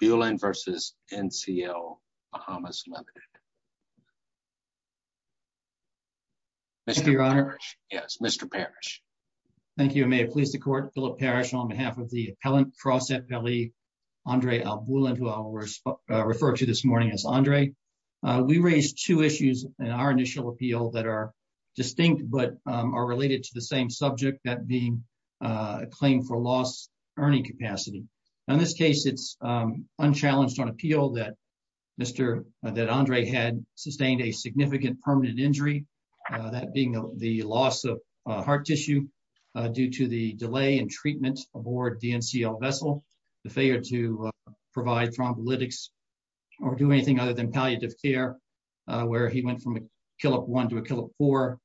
Mr. Parrish In this case, it's unchallenged on appeal that Andre had sustained a significant permanent injury, that being the loss of heart tissue due to the delay in treatment aboard the NCL vessel, the failure to provide thrombolytics or do anything other than palliative care, where he went from a Killip 1 to a Killip 4,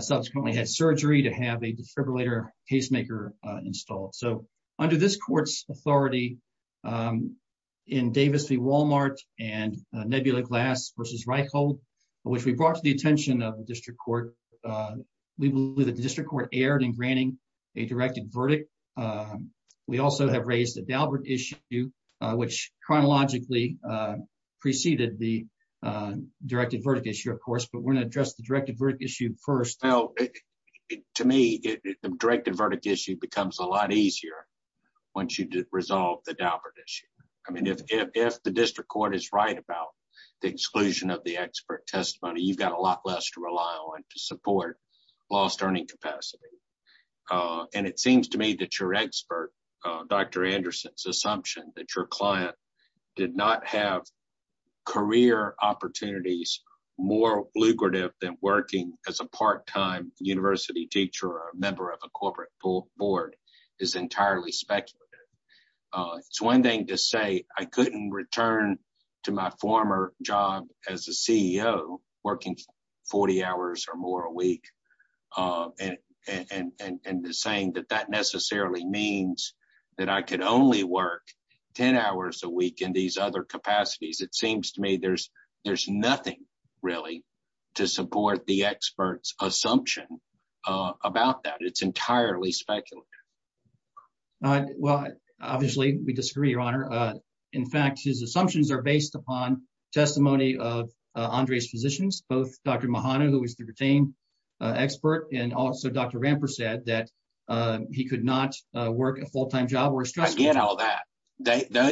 subsequently had surgery to have a defibrillator pacemaker installed. So, under this court's authority, in Davis v. Walmart and Nebula Glass v. Reichhold, which we brought to the attention of the District Court, we believe that the District Court erred in granting a directed verdict. We also have raised the Daubert issue, which chronologically preceded the directed verdict issue, of course, but we're going to address the directed verdict issue first. To me, the directed verdict issue becomes a lot easier once you resolve the Daubert issue. I mean, if the District Court is right about the exclusion of the expert testimony, you've got a lot less to rely on to support lost earning capacity. And it seems to me that your expert, Dr. Anderson's assumption that your client did not have career opportunities more lucrative than working as a part-time university teacher or a member of a corporate board is entirely speculative. It's one thing to say, I couldn't return to my former job as a CEO working 40 hours or more a week and saying that that necessarily means that I could only work 10 hours a week in these other capacities. It seems to me there's nothing really to support the expert's assumption about that. It's entirely speculative. Well, obviously, we disagree, Your Honor. In fact, his assumptions are based upon testimony of Andre's physicians, both Dr. Mahano, who was the retained expert, and also Dr. Ramper said that he could not work a full-time job. I get all that.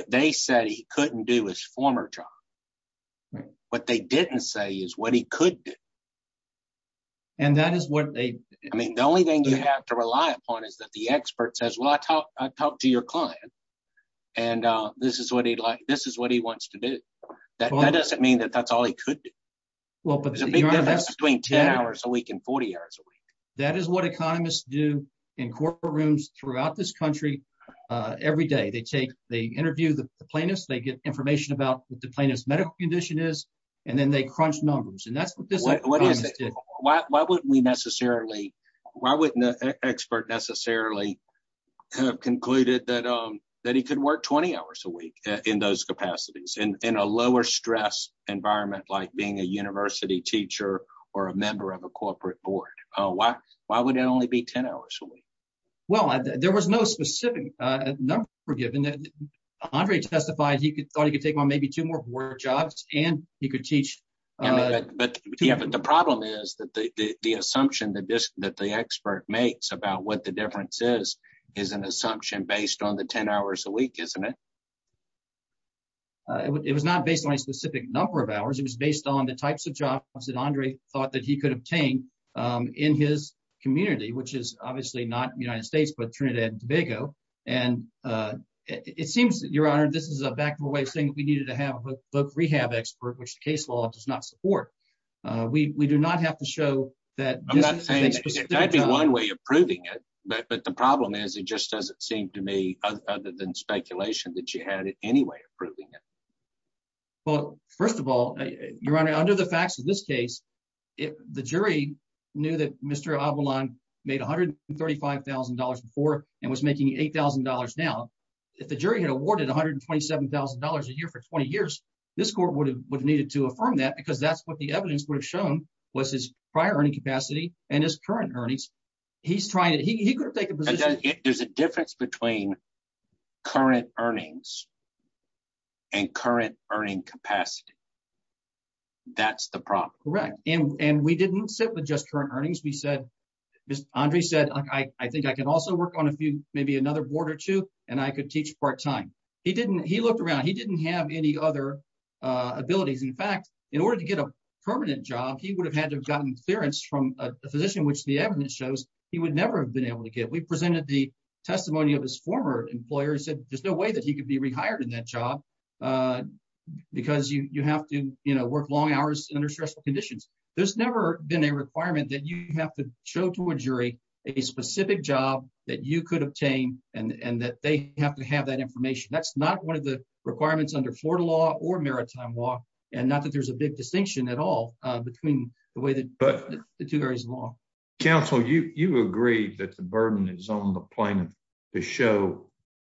They said he couldn't do his former job. What they didn't say is what he could do. I mean, the only thing you have to rely upon is that the expert says, well, I talked to your client, and this is what he wants to do. That doesn't mean that that's all he could do. It's a big difference between 10 hours a week and 40 hours a week. That is what economists do in corporate rooms throughout this country every day. They interview the plaintiffs. They get information about what the plaintiff's medical condition is, and then they crunch numbers. Why wouldn't the expert necessarily have concluded that he could work 20 hours a week in those capacities in a lower-stress environment like being a university teacher or a member of a corporate board? Why would it only be 10 hours a week? Well, there was no specific number given. Andre testified he thought he could take on maybe two more board jobs, and he could teach. But the problem is that the assumption that the expert makes about what the difference is is an assumption based on the 10 hours a week, isn't it? It was not based on a specific number of hours. It was based on the types of jobs that Andre thought that he could obtain in his community, which is obviously not the United States but Trinidad and Tobago. And it seems, Your Honor, this is a back-and-forth way of saying that we needed to have a book rehab expert, which the case law does not support. We do not have to show that— I'm not saying—there might be one way of proving it, but the problem is it just doesn't seem to me, other than speculation, that you had any way of proving it. Well, first of all, Your Honor, under the facts of this case, the jury knew that Mr. Avalon made $135,000 before and was making $8,000 now. If the jury had awarded $127,000 a year for 20 years, this court would have needed to affirm that because that's what the evidence would have shown was his prior earning capacity and his current earnings. He's trying to—he could have taken a position— Because there's a difference between current earnings and current earning capacity. That's the problem. Correct. And we didn't sit with just current earnings. We said—Andre said, I think I can also work on a few—maybe another board or two, and I could teach part-time. He didn't—he looked around. He didn't have any other abilities. In fact, in order to get a permanent job, he would have had to have gotten clearance from a physician, which the evidence shows he would never have been able to get. We presented the testimony of his former employer and said there's no way that he could be rehired in that job because you have to work long hours under stressful conditions. There's never been a requirement that you have to show to a jury a specific job that you could obtain and that they have to have that information. That's not one of the requirements under Florida law or maritime law, and not that there's a big distinction at all between the two areas of law. Counsel, you agree that the burden is on the plaintiff to show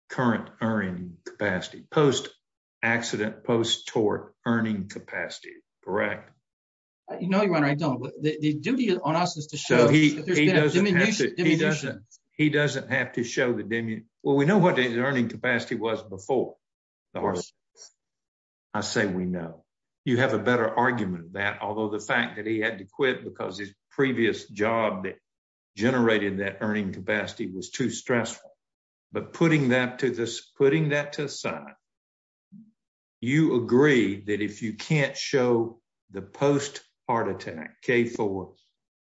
current earning capacity, post-accident, post-tort earning capacity, correct? No, Your Honor, I don't. The duty on us is to show that there's been a diminution. He doesn't have to show the—well, we know what his earning capacity was before. I say we know. You have a better argument of that, although the fact that he had to quit because his previous job that generated that earning capacity was too stressful. But putting that to the side, you agree that if you can't show the post-heart attack, K-4,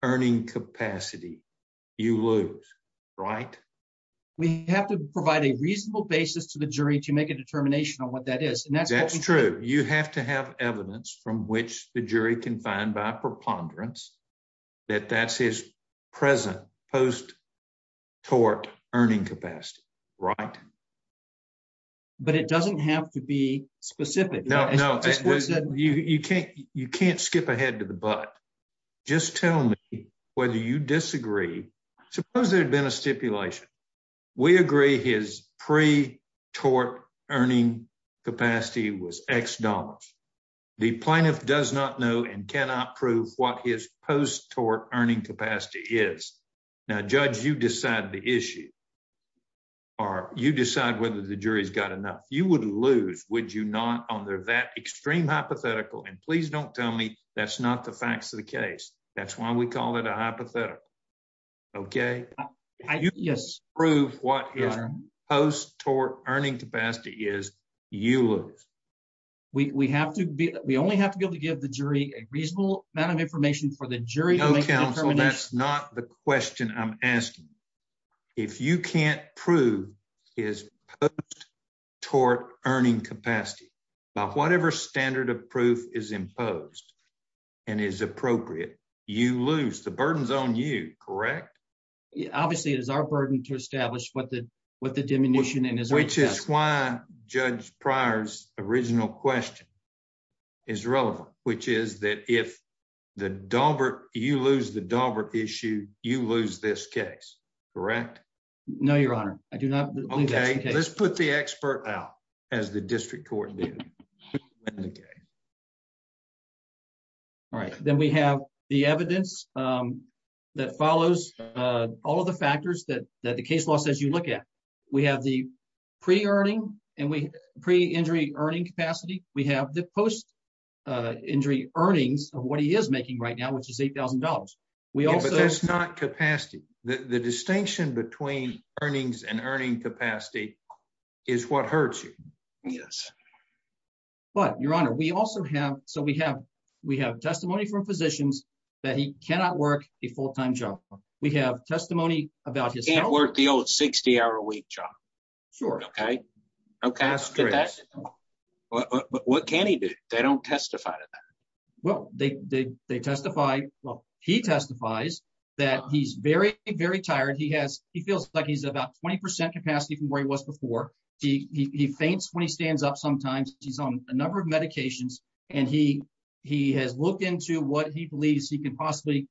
earning capacity, you lose, right? We have to provide a reasonable basis to the jury to make a determination on what that is. That's true. You have to have evidence from which the jury can find by preponderance that that's his present post-tort earning capacity, right? But it doesn't have to be specific. You can't skip ahead to the but. Just tell me whether you disagree. Suppose there had been a stipulation. We agree his pre-tort earning capacity was X dollars. The plaintiff does not know and cannot prove what his post-tort earning capacity is. Now, Judge, you decide the issue, or you decide whether the jury's got enough. You would lose, would you not, under that extreme hypothetical, and please don't tell me that's not the facts of the case. That's why we call it a hypothetical, okay? If you can't prove what his post-tort earning capacity is, you lose. We only have to be able to give the jury a reasonable amount of information for the jury to make a determination. So that's not the question I'm asking. If you can't prove his post-tort earning capacity, by whatever standard of proof is imposed and is appropriate, you lose. The burden's on you, correct? Obviously, it is our burden to establish what the determination is. Which is why Judge Pryor's original question is relevant, which is that if you lose the Daubert issue, you lose this case, correct? No, Your Honor. I do not believe that's the case. Okay, let's put the expert out, as the district court did. All right, then we have the evidence that follows all of the factors that the case law says you look at. We have the pre-injury earning capacity. We have the post-injury earnings of what he is making right now, which is $8,000. Yeah, but that's not capacity. The distinction between earnings and earning capacity is what hurts you. Yes. But, Your Honor, we also have testimony from physicians that he cannot work a full-time job. We have testimony about his health. He can't work the old 60-hour-a-week job. Sure. Okay? That's true. What can he do? They don't testify to that. Well, he testifies that he's very, very tired. He feels like he's at about 20% capacity from where he was before. He faints when he stands up sometimes. He's on a number of medications. And he has looked into what he believes he can possibly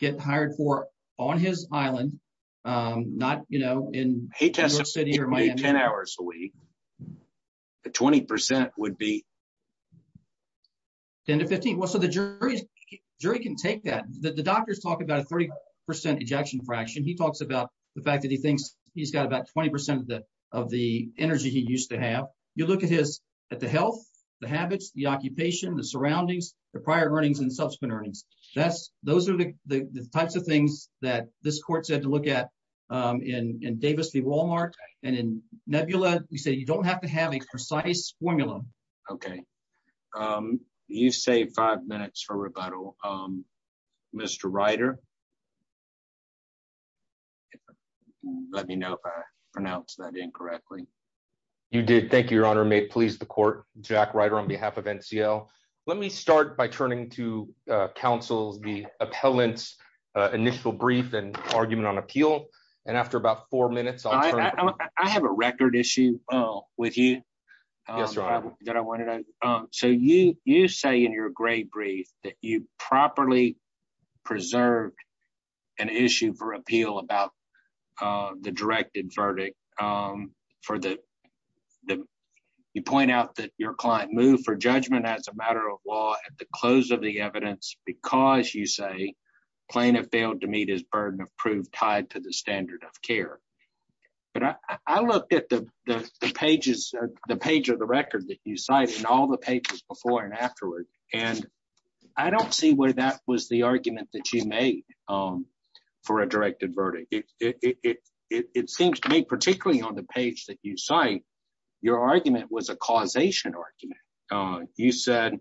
get hired for on his island, not, you know, in New York City or Miami. He tests at maybe 10 hours a week. The 20% would be? 10 to 15. Well, so the jury can take that. The doctors talk about a 30% ejection fraction. He talks about the fact that he thinks he's got about 20% of the energy he used to have. You look at the health, the habits, the occupation, the surroundings, the prior earnings and subsequent earnings. Those are the types of things that this court said to look at in Davis v. Walmart and in Nebula. We say you don't have to have a precise formula. Okay. You saved five minutes for rebuttal, Mr. Ryder. Let me know if I pronounced that incorrectly. You did. Thank you, Your Honor. May it please the court. Jack Ryder on behalf of NCL. Let me start by turning to counsel's, the appellant's initial brief and argument on appeal. And after about four minutes, I have a record issue with you. So you say in your gray brief that you properly preserved an issue for appeal about the directed verdict. You point out that your client moved for judgment as a matter of law at the close of the evidence because you say plaintiff failed to meet his burden of proof tied to the standard of care. But I looked at the pages, the page of the record that you cite and all the pages before and afterward, and I don't see where that was the argument that you made for a directed verdict. It seems to me, particularly on the page that you cite, your argument was a causation argument. You said,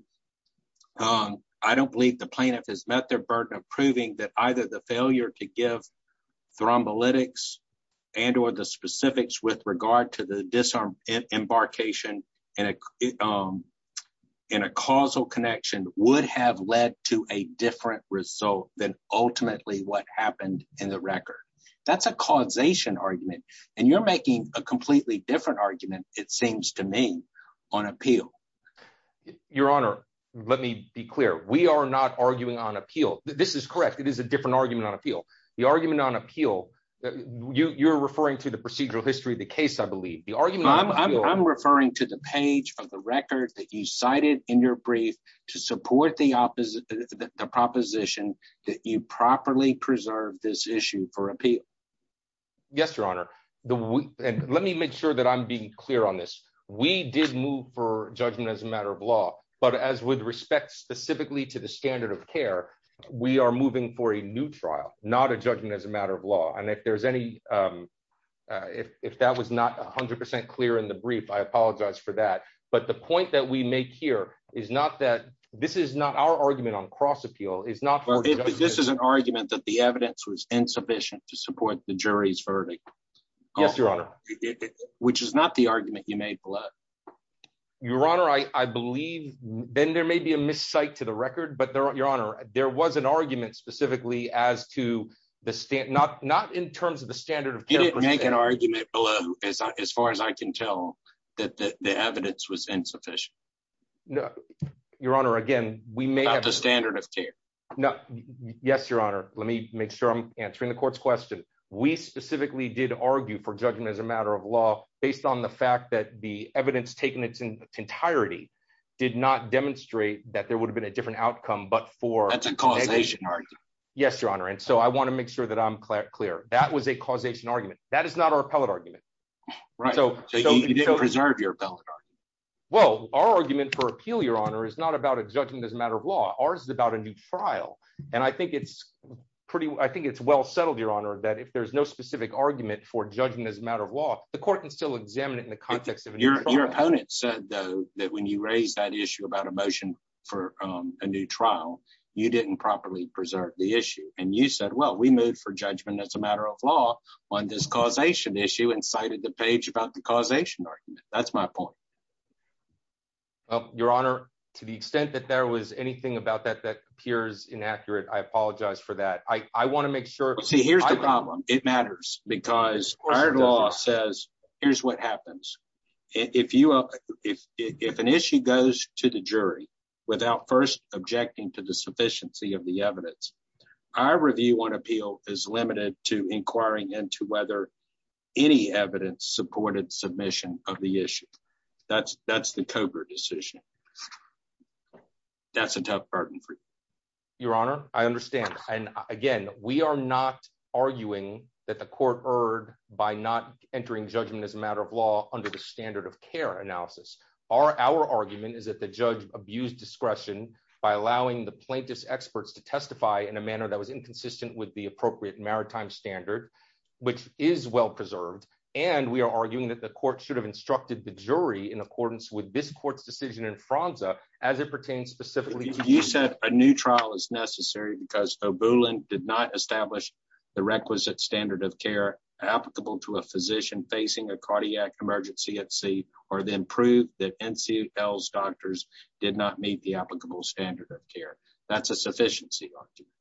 I don't believe the plaintiff has met their burden of proving that either the failure to give thrombolytics and or the specifics with regard to the disembarkation in a causal connection would have led to a different result than ultimately what happened in the record. That's a causation argument. And you're making a completely different argument, it seems to me, on appeal. Your Honor, let me be clear. We are not arguing on appeal. This is correct. It is a different argument on appeal. The argument on appeal, you're referring to the procedural history of the case, I believe. I'm referring to the page of the record that you cited in your brief to support the proposition that you properly preserve this issue for appeal. Yes, Your Honor. Let me make sure that I'm being clear on this. We did move for judgment as a matter of law, but as with respect specifically to the standard of care, we are moving for a new trial, not a judgment as a matter of law. And if there's any, if that was not 100% clear in the brief, I apologize for that. But the point that we make here is not that this is not our argument on cross appeal. This is an argument that the evidence was insufficient to support the jury's verdict. Yes, Your Honor. Which is not the argument you made below. Your Honor, I believe, Ben, there may be a miscite to the record, but Your Honor, there was an argument specifically as to the standard, not in terms of the standard of care. You didn't make an argument below, as far as I can tell, that the evidence was insufficient. Your Honor, again, we may have... About the standard of care. Yes, Your Honor. Let me make sure I'm answering the court's question. We specifically did argue for judgment as a matter of law, based on the fact that the evidence taken in its entirety did not demonstrate that there would have been a different outcome, but for... That's a causation argument. Yes, Your Honor. And so I want to make sure that I'm clear. That was a causation argument. That is not our appellate argument. Right. So you didn't preserve your appellate argument. Well, our argument for appeal, Your Honor, is not about a judgment as a matter of law. Ours is about a new trial. And I think it's pretty... I think it's well settled, Your Honor, that if there's no specific argument for judgment as a matter of law, the court can still examine it in the context of a new trial. Your opponent said, though, that when you raised that issue about a motion for a new trial, you didn't properly preserve the issue. And you said, well, we moved for judgment as a matter of law on this causation issue and cited the page about the causation argument. That's my point. Your Honor, to the extent that there was anything about that that appears inaccurate, I apologize for that. I want to make sure... See, here's the problem. It matters because our law says, here's what happens. If an issue goes to the jury without first objecting to the sufficiency of the evidence, our review on appeal is limited to inquiring into whether any evidence supported submission of the issue. That's the Cogar decision. That's a tough burden for you. Your Honor, I understand. And again, we are not arguing that the court erred by not entering judgment as a matter of law under the standard of care analysis. Our argument is that the judge abused discretion by allowing the plaintiff's experts to testify in a manner that was inconsistent with the appropriate maritime standard, which is well preserved. And we are arguing that the court should have instructed the jury in accordance with this court's decision in Franza as it pertains specifically to... You said a new trial is necessary because O'Boolen did not establish the requisite standard of care applicable to a physician facing a cardiac emergency at sea, or then prove that NCL's doctors did not meet the applicable standard of care. That's a sufficiency argument.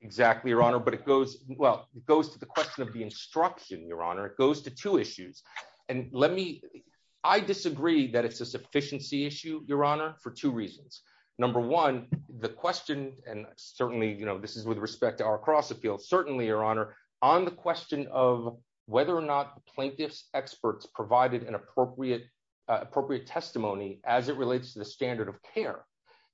Exactly, Your Honor, but it goes, well, it goes to the question of the instruction, Your Honor, it goes to two issues. And let me, I disagree that it's a sufficiency issue, Your Honor, for two reasons. Number one, the question, and certainly, you know, this is with respect to our cross appeal, certainly, Your Honor, on the question of whether or not plaintiff's experts provided an appropriate testimony as it relates to the standard of care.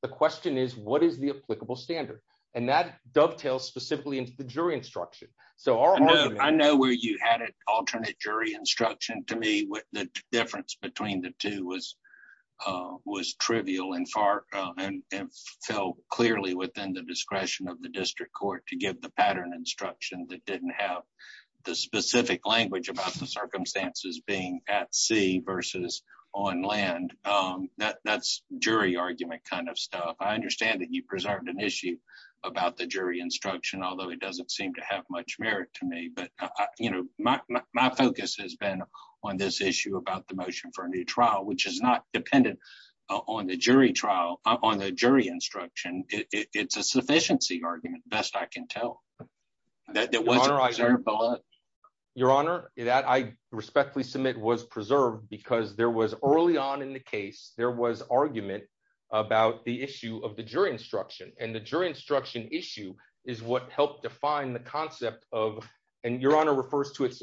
The question is, what is the applicable standard? And that dovetails specifically into the jury instruction. So our argument... I know where you had it, alternate jury instruction. To me, the difference between the two was trivial and far, and fell clearly within the discretion of the district court to give the pattern instruction that didn't have the specific language about the circumstances being at sea versus on land. That's jury argument kind of stuff. I understand that you preserved an issue about the jury instruction, although it doesn't seem to have much merit to me. But, you know, my focus has been on this issue about the motion for a new trial, which is not dependent on the jury instruction. It's a sufficiency argument, best I can tell. Your Honor, that I respectfully submit was preserved because there was early on in the case, there was argument about the issue of the jury instruction, and the jury instruction issue is what helped define the concept of, and Your Honor refers to it as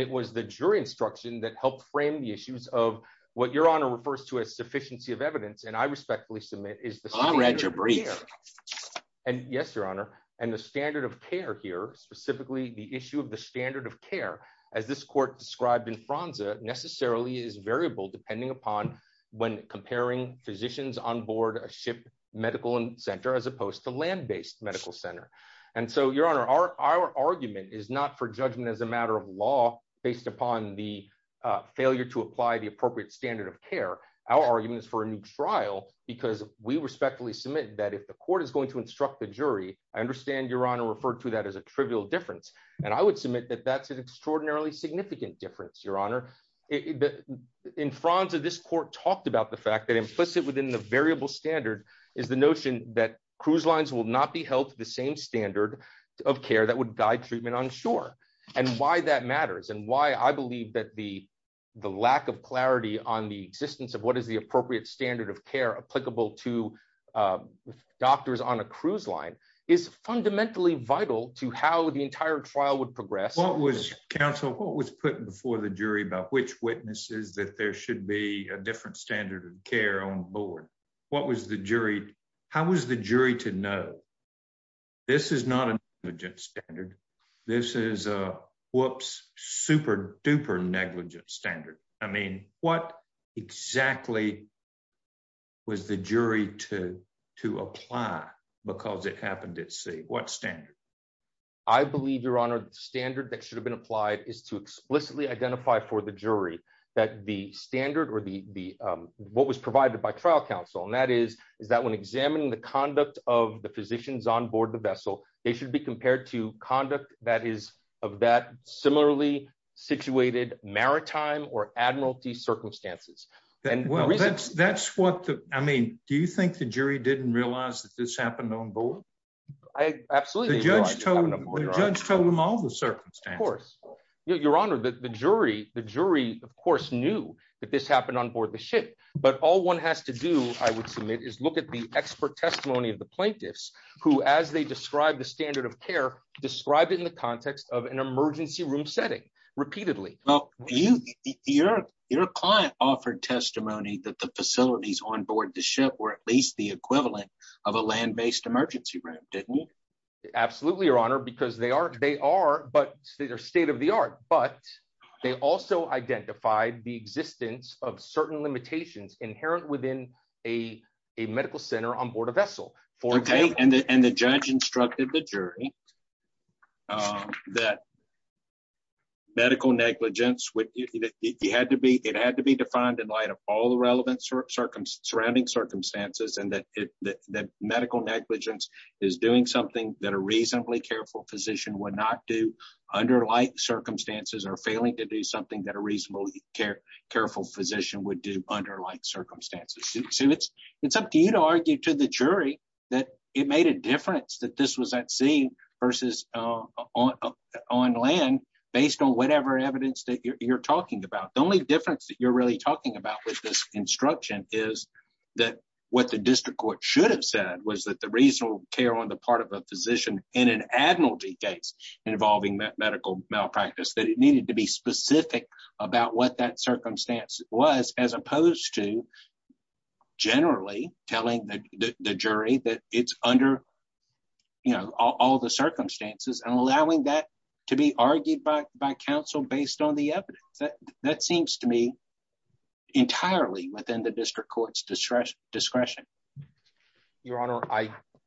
And it was the jury instruction that helped frame the issues of what Your Honor refers to as sufficiency of evidence, and I respectfully submit is the standard of care. And yes, Your Honor, and the standard of care here, specifically the issue of the standard of care, as this court described in Franza, necessarily is variable depending upon when comparing physicians on board a ship medical center as opposed to land-based medical center. And so, Your Honor, our argument is not for judgment as a matter of law, based upon the failure to apply the appropriate standard of care. Our argument is for a new trial, because we respectfully submit that if the court is going to instruct the jury, I understand Your Honor referred to that as a trivial difference, and I would submit that that's an extraordinarily significant difference, Your Honor. In Franza, this court talked about the fact that implicit within the variable standard is the notion that cruise lines will not be held to the same standard of care that would guide treatment on shore, and why that matters and why I believe that the lack of clarity on the existence of what is the appropriate standard of care applicable to doctors on a cruise line is fundamentally vital to how the entire trial would progress. What was, counsel, what was put before the jury about which witnesses that there should be a different standard of care on board? What was the jury, how was the jury to know? This is not a negligent standard. This is a whoops, super duper negligent standard. I mean, what exactly was the jury to apply because it happened at sea? What standard? I believe, Your Honor, the standard that should have been applied is to explicitly identify for the jury that the standard or the what was provided by trial counsel and that is, is that when examining the conduct of the physicians on board the vessel, they should be compared to conduct that is of that similarly situated maritime or admiralty circumstances. And that's what the, I mean, do you think the jury didn't realize that this happened on board? Absolutely. The judge told him all the circumstances. Of course. Your Honor, the jury, the jury, of course, knew that this happened on board the ship, but all one has to do, I would submit, is look at the expert testimony of the plaintiffs, who as they describe the standard of care, describe it in the context of an emergency room setting, repeatedly. Your client offered testimony that the facilities on board the ship were at least the equivalent of a land-based emergency room, didn't he? Absolutely, Your Honor, because they are, they are, but they're state of the art, but they also identified the existence of certain limitations inherent within a medical center on board a vessel. And the judge instructed the jury that medical negligence, it had to be defined in light of all the relevant surrounding circumstances and that medical negligence is doing something that a reasonably careful physician would not do under like circumstances or failing to do something that a reasonably careful physician would do under like circumstances. So it's up to you to argue to the jury that it made a difference that this was at sea versus on land based on whatever evidence that you're talking about. The only difference that you're really talking about with this instruction is that what the district court should have said was that the reasonable care on the part of a physician in an admiralty case involving medical malpractice, that it needed to be specific about what that circumstance was, as opposed to generally telling the jury that it's under, you know, all the circumstances and allowing that to be argued by counsel based on the evidence. That seems to me entirely within the district court's discretion. Your Honor,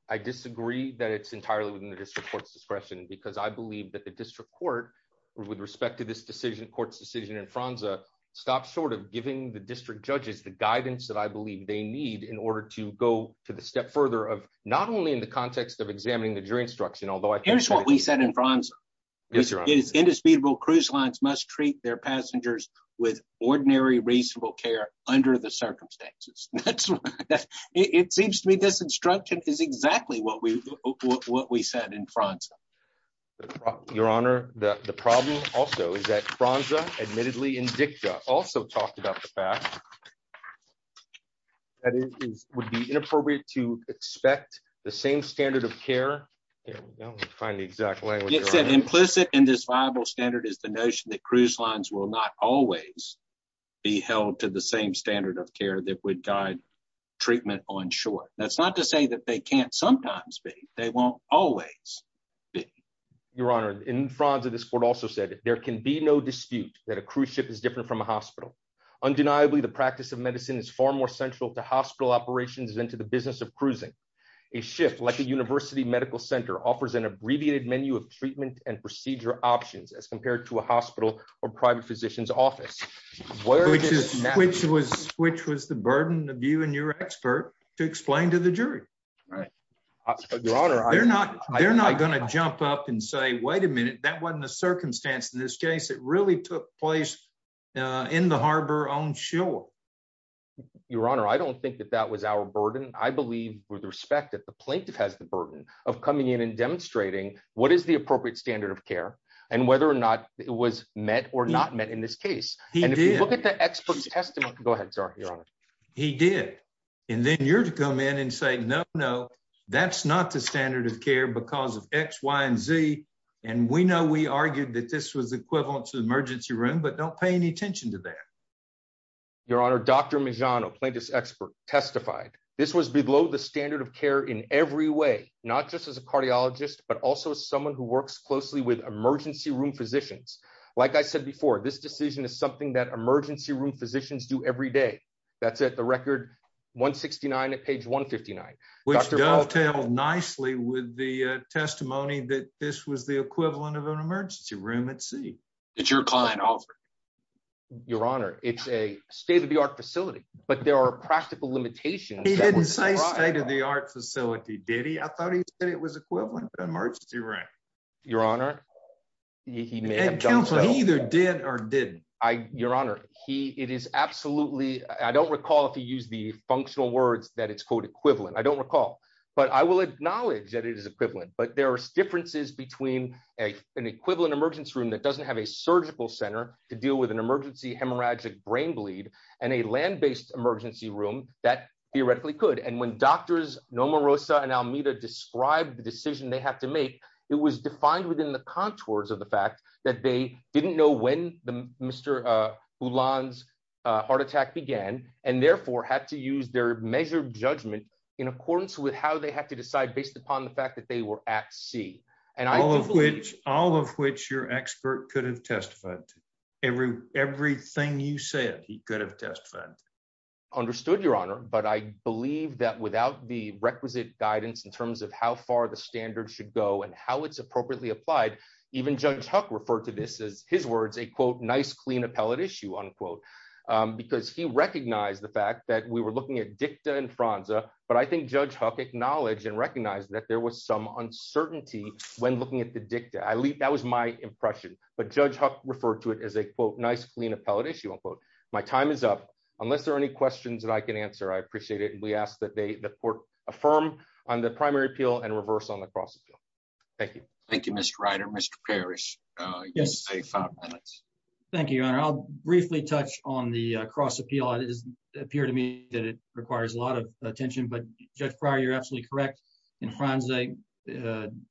I disagree that it's entirely within the district court's discretion because I believe that the district court with respect to this decision court's decision in Franza stopped short of giving the district judges the guidance that I believe they need in order to go to the step further of not only in the context of examining the jury instruction, although I think that's what we said in France is indisputable cruise lines must treat their passengers with ordinary reasonable care under the circumstances. It seems to me this instruction is exactly what we what we said in France. Your Honor, the problem also is that Franza admittedly in dicta also talked about the fact that it would be inappropriate to expect the same standard of care. Find the exact language implicit in this Bible standard is the notion that cruise lines will not always be held to the same standard of care that would guide treatment on short, that's not to say that they can't sometimes be, they won't always be. Your Honor, in front of this court also said there can be no dispute that a cruise ship is different from a hospital. Undeniably the practice of medicine is far more central to hospital operations into the business of cruising a shift like a university medical center offers an abbreviated menu of treatment and procedure options as compared to a hospital or private physician's office, which is, which was, which was the burden of you and your expert to explain to the jury. Right. Your Honor, they're not, they're not going to jump up and say wait a minute, that wasn't a circumstance in this case it really took place in the harbor on shore. Your Honor, I don't think that that was our burden, I believe, with respect to the plaintiff has the burden of coming in and demonstrating what is the appropriate standard of care, and whether or not it was met or not met in this case. And if you look at the expert's testimony. Go ahead, sir. He did. And then you're to come in and say no, no, that's not the standard of care because of X, Y, and Z. And we know we argued that this was equivalent to emergency room but don't pay any attention to that. Your Honor, Dr. Mijano plaintiff's expert testified, this was below the standard of care in every way, not just as a cardiologist, but also someone who works closely with emergency room physicians. Like I said before, this decision is something that emergency room physicians do every day. That's at the record 169 at page 159. Tell nicely with the testimony that this was the equivalent of an emergency room at sea. It's your client offer. Your Honor, it's a state of the art facility, but there are practical limitations. He didn't say state of the art facility did he I thought he said it was equivalent to emergency room. Your Honor. He may have done so either did or didn't I, Your Honor, he, it is absolutely, I don't recall if he used the functional words that it's called equivalent I don't recall, but I will acknowledge that it is equivalent but there are differences between an equivalent emergency room that doesn't have a surgical center to deal with an emergency hemorrhagic brain bleed, and a land based emergency room that theoretically could and when doctors normal Rosa and I'll meet a described the decision they have to make it was defined within the contours of the fact that they didn't know when the Mr. Even Judge Huck referred to this as his words a quote nice clean appellate issue unquote, because he recognized the fact that we were looking at dicta and Franza, but I think Judge Huck acknowledge and recognize that there was some uncertainty. When looking at the dicta I leave that was my impression, but Judge Huck referred to it as a quote nice clean appellate issue unquote, my time is up, unless there are any questions that I can answer I appreciate it and we asked that they the court, a firm on the Yes. Thank you, and I'll briefly touch on the cross appeal it is appear to me that it requires a lot of attention but just prior you're absolutely correct in France a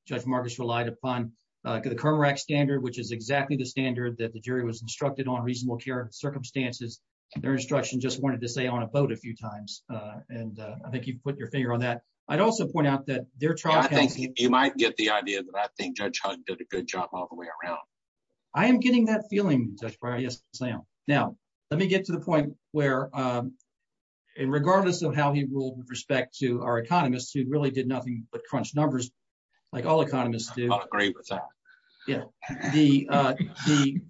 judge Marcus relied upon the current standard which is exactly the standard that the jury was instructed on reasonable care circumstances, their instruction just wanted to say on a boat a few times. And I think you've put your finger on that. I'd also point out that they're trying to think you might get the idea that I think Judge Huck did a good job all the way around. I am getting that feeling, Sam. Now, let me get to the point where in regardless of how he will respect to our economists who really did nothing but crunch numbers, like all economists do agree with that. The.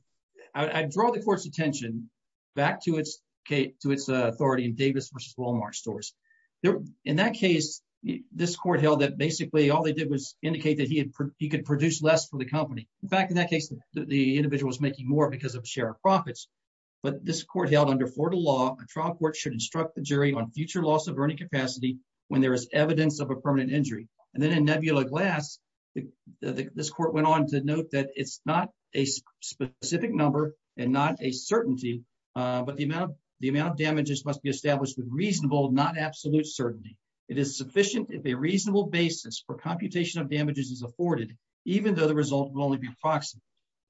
I draw the court's attention back to its case to its authority and Davis versus Walmart stores there. In that case, this court held that basically all they did was indicate that he had he could produce less for the company. In fact, in that case, the individual was making more because of share of profits. But this court held under Florida law trial court should instruct the jury on future loss of earning capacity. When there is evidence of a permanent injury, and then in nebula glass. This court went on to note that it's not a specific number, and not a certainty, but the amount of the amount of damages must be established with reasonable not absolute certainty, it is sufficient if a reasonable basis for computation of damages is afforded, even though the result will only be proxy.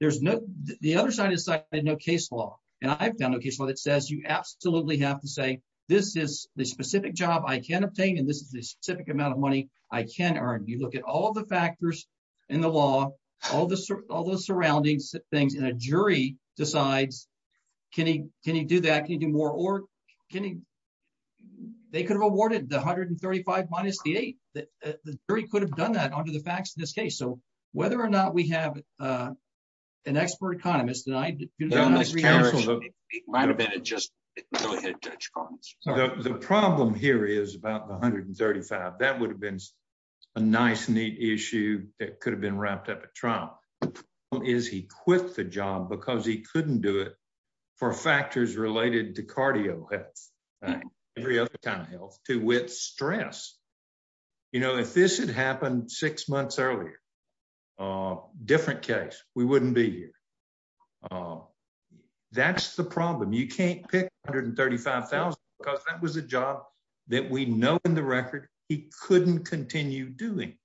There's no. The other side is like no case law, and I've done a case where it says you absolutely have to say, this is the specific job I can obtain and this is the specific amount of money I can earn you look at all the factors in the law, all the, all the surroundings, things in a jury decides. Can he, can you do that can you do more or can they could have awarded the hundred and 35 minus the eight that the jury could have done that under the facts in this case so whether or not we have an expert economist and I might have been just the problem here is about 135 that would have been a nice neat issue that could have been wrapped up a trial is he quit the job because he couldn't do it for factors related to cardio. Every other time health to with stress. You know if this had happened six months earlier. Different case, we wouldn't be here. Well, that's the problem you can't pick hundred and 35,000, because that was a job that we know in the record, he couldn't continue doing.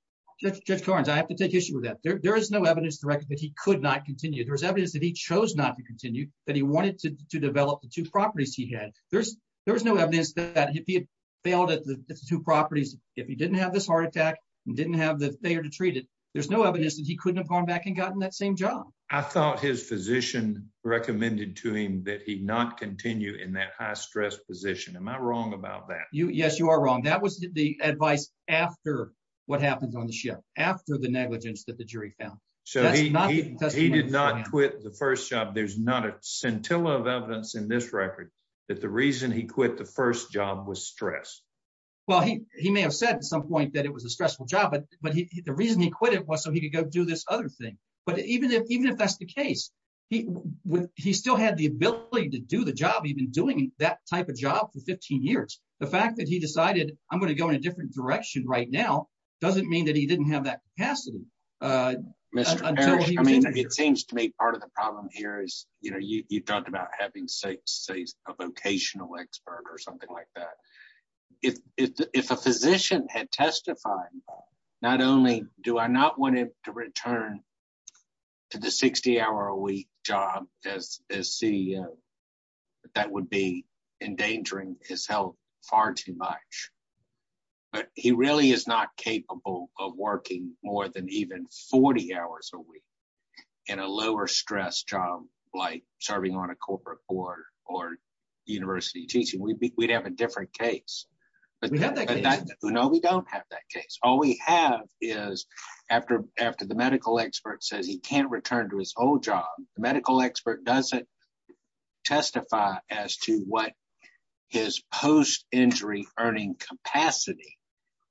I have to take issue with that there is no evidence that he could not continue there's evidence that he chose not to continue that he wanted to develop the two properties he had, there's, there's no evidence that he failed at the two properties. If he didn't have this heart attack, didn't have the failure to treat it. There's no evidence that he couldn't have gone back and gotten that same job. I thought his physician recommended to him that he not continue in that high stress position am I wrong about that you yes you are wrong that was the advice. After what happens on the ship after the negligence that the jury found. So he did not quit the first job there's not a scintilla of evidence in this record that the reason he quit the first job was stressed. Well, he, he may have said at some point that it was a stressful job but but he the reason he quit it was so he could go do this other thing. But even if even if that's the case, he would, he still had the ability to do the job even doing that type of job for 15 years, the fact that he decided, I'm going to go in a different direction right now doesn't mean that he didn't have that capacity. Mr. It seems to me part of the problem here is, you know, you talked about having say, say, a vocational expert or something like that. If, if a physician had testified. Not only do I not want him to return to the 60 hour a week job as a CEO. That would be endangering his health, far too much. But he really is not capable of working more than even 40 hours a week in a lower stress job, like serving on a corporate board or university teaching we'd be we'd have a different case. No, we don't have that case, all we have is after after the medical expert says he can't return to his old job, medical expert doesn't testify as to what his post injury earning capacity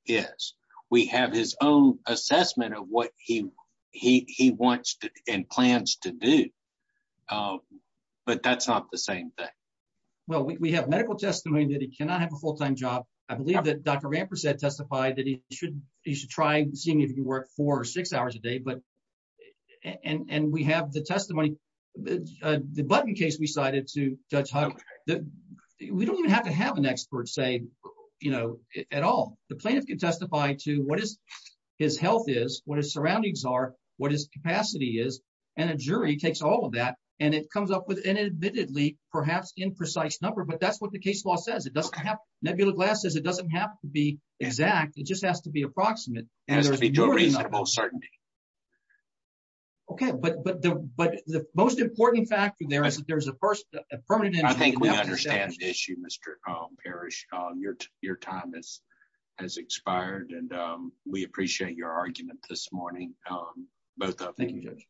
is, we have his own assessment of what he, he wants and plans to do. But that's not the same thing. Well, we have medical testimony that he cannot have a full time job. I believe that Dr Ramper said testify that he should, he should try seeing if you work four or six hours a day but and we have the testimony. The button case we cited to judge how we don't even have to have an expert say, you know, at all, the plaintiff can testify to what is his health is what his surroundings are, what is capacity is, and a jury takes all of that, and it comes up with an admittedly perhaps imprecise number but that's what the case law says it doesn't have nebula glass is it doesn't have to be exact, it just has to be approximate, and there's a reasonable certainty. Okay, but, but, but the most important factor there is that there's a person, a permanent and I think we understand the issue Mr. Parrish on your, your time is has expired and we appreciate your argument this morning. Both of you.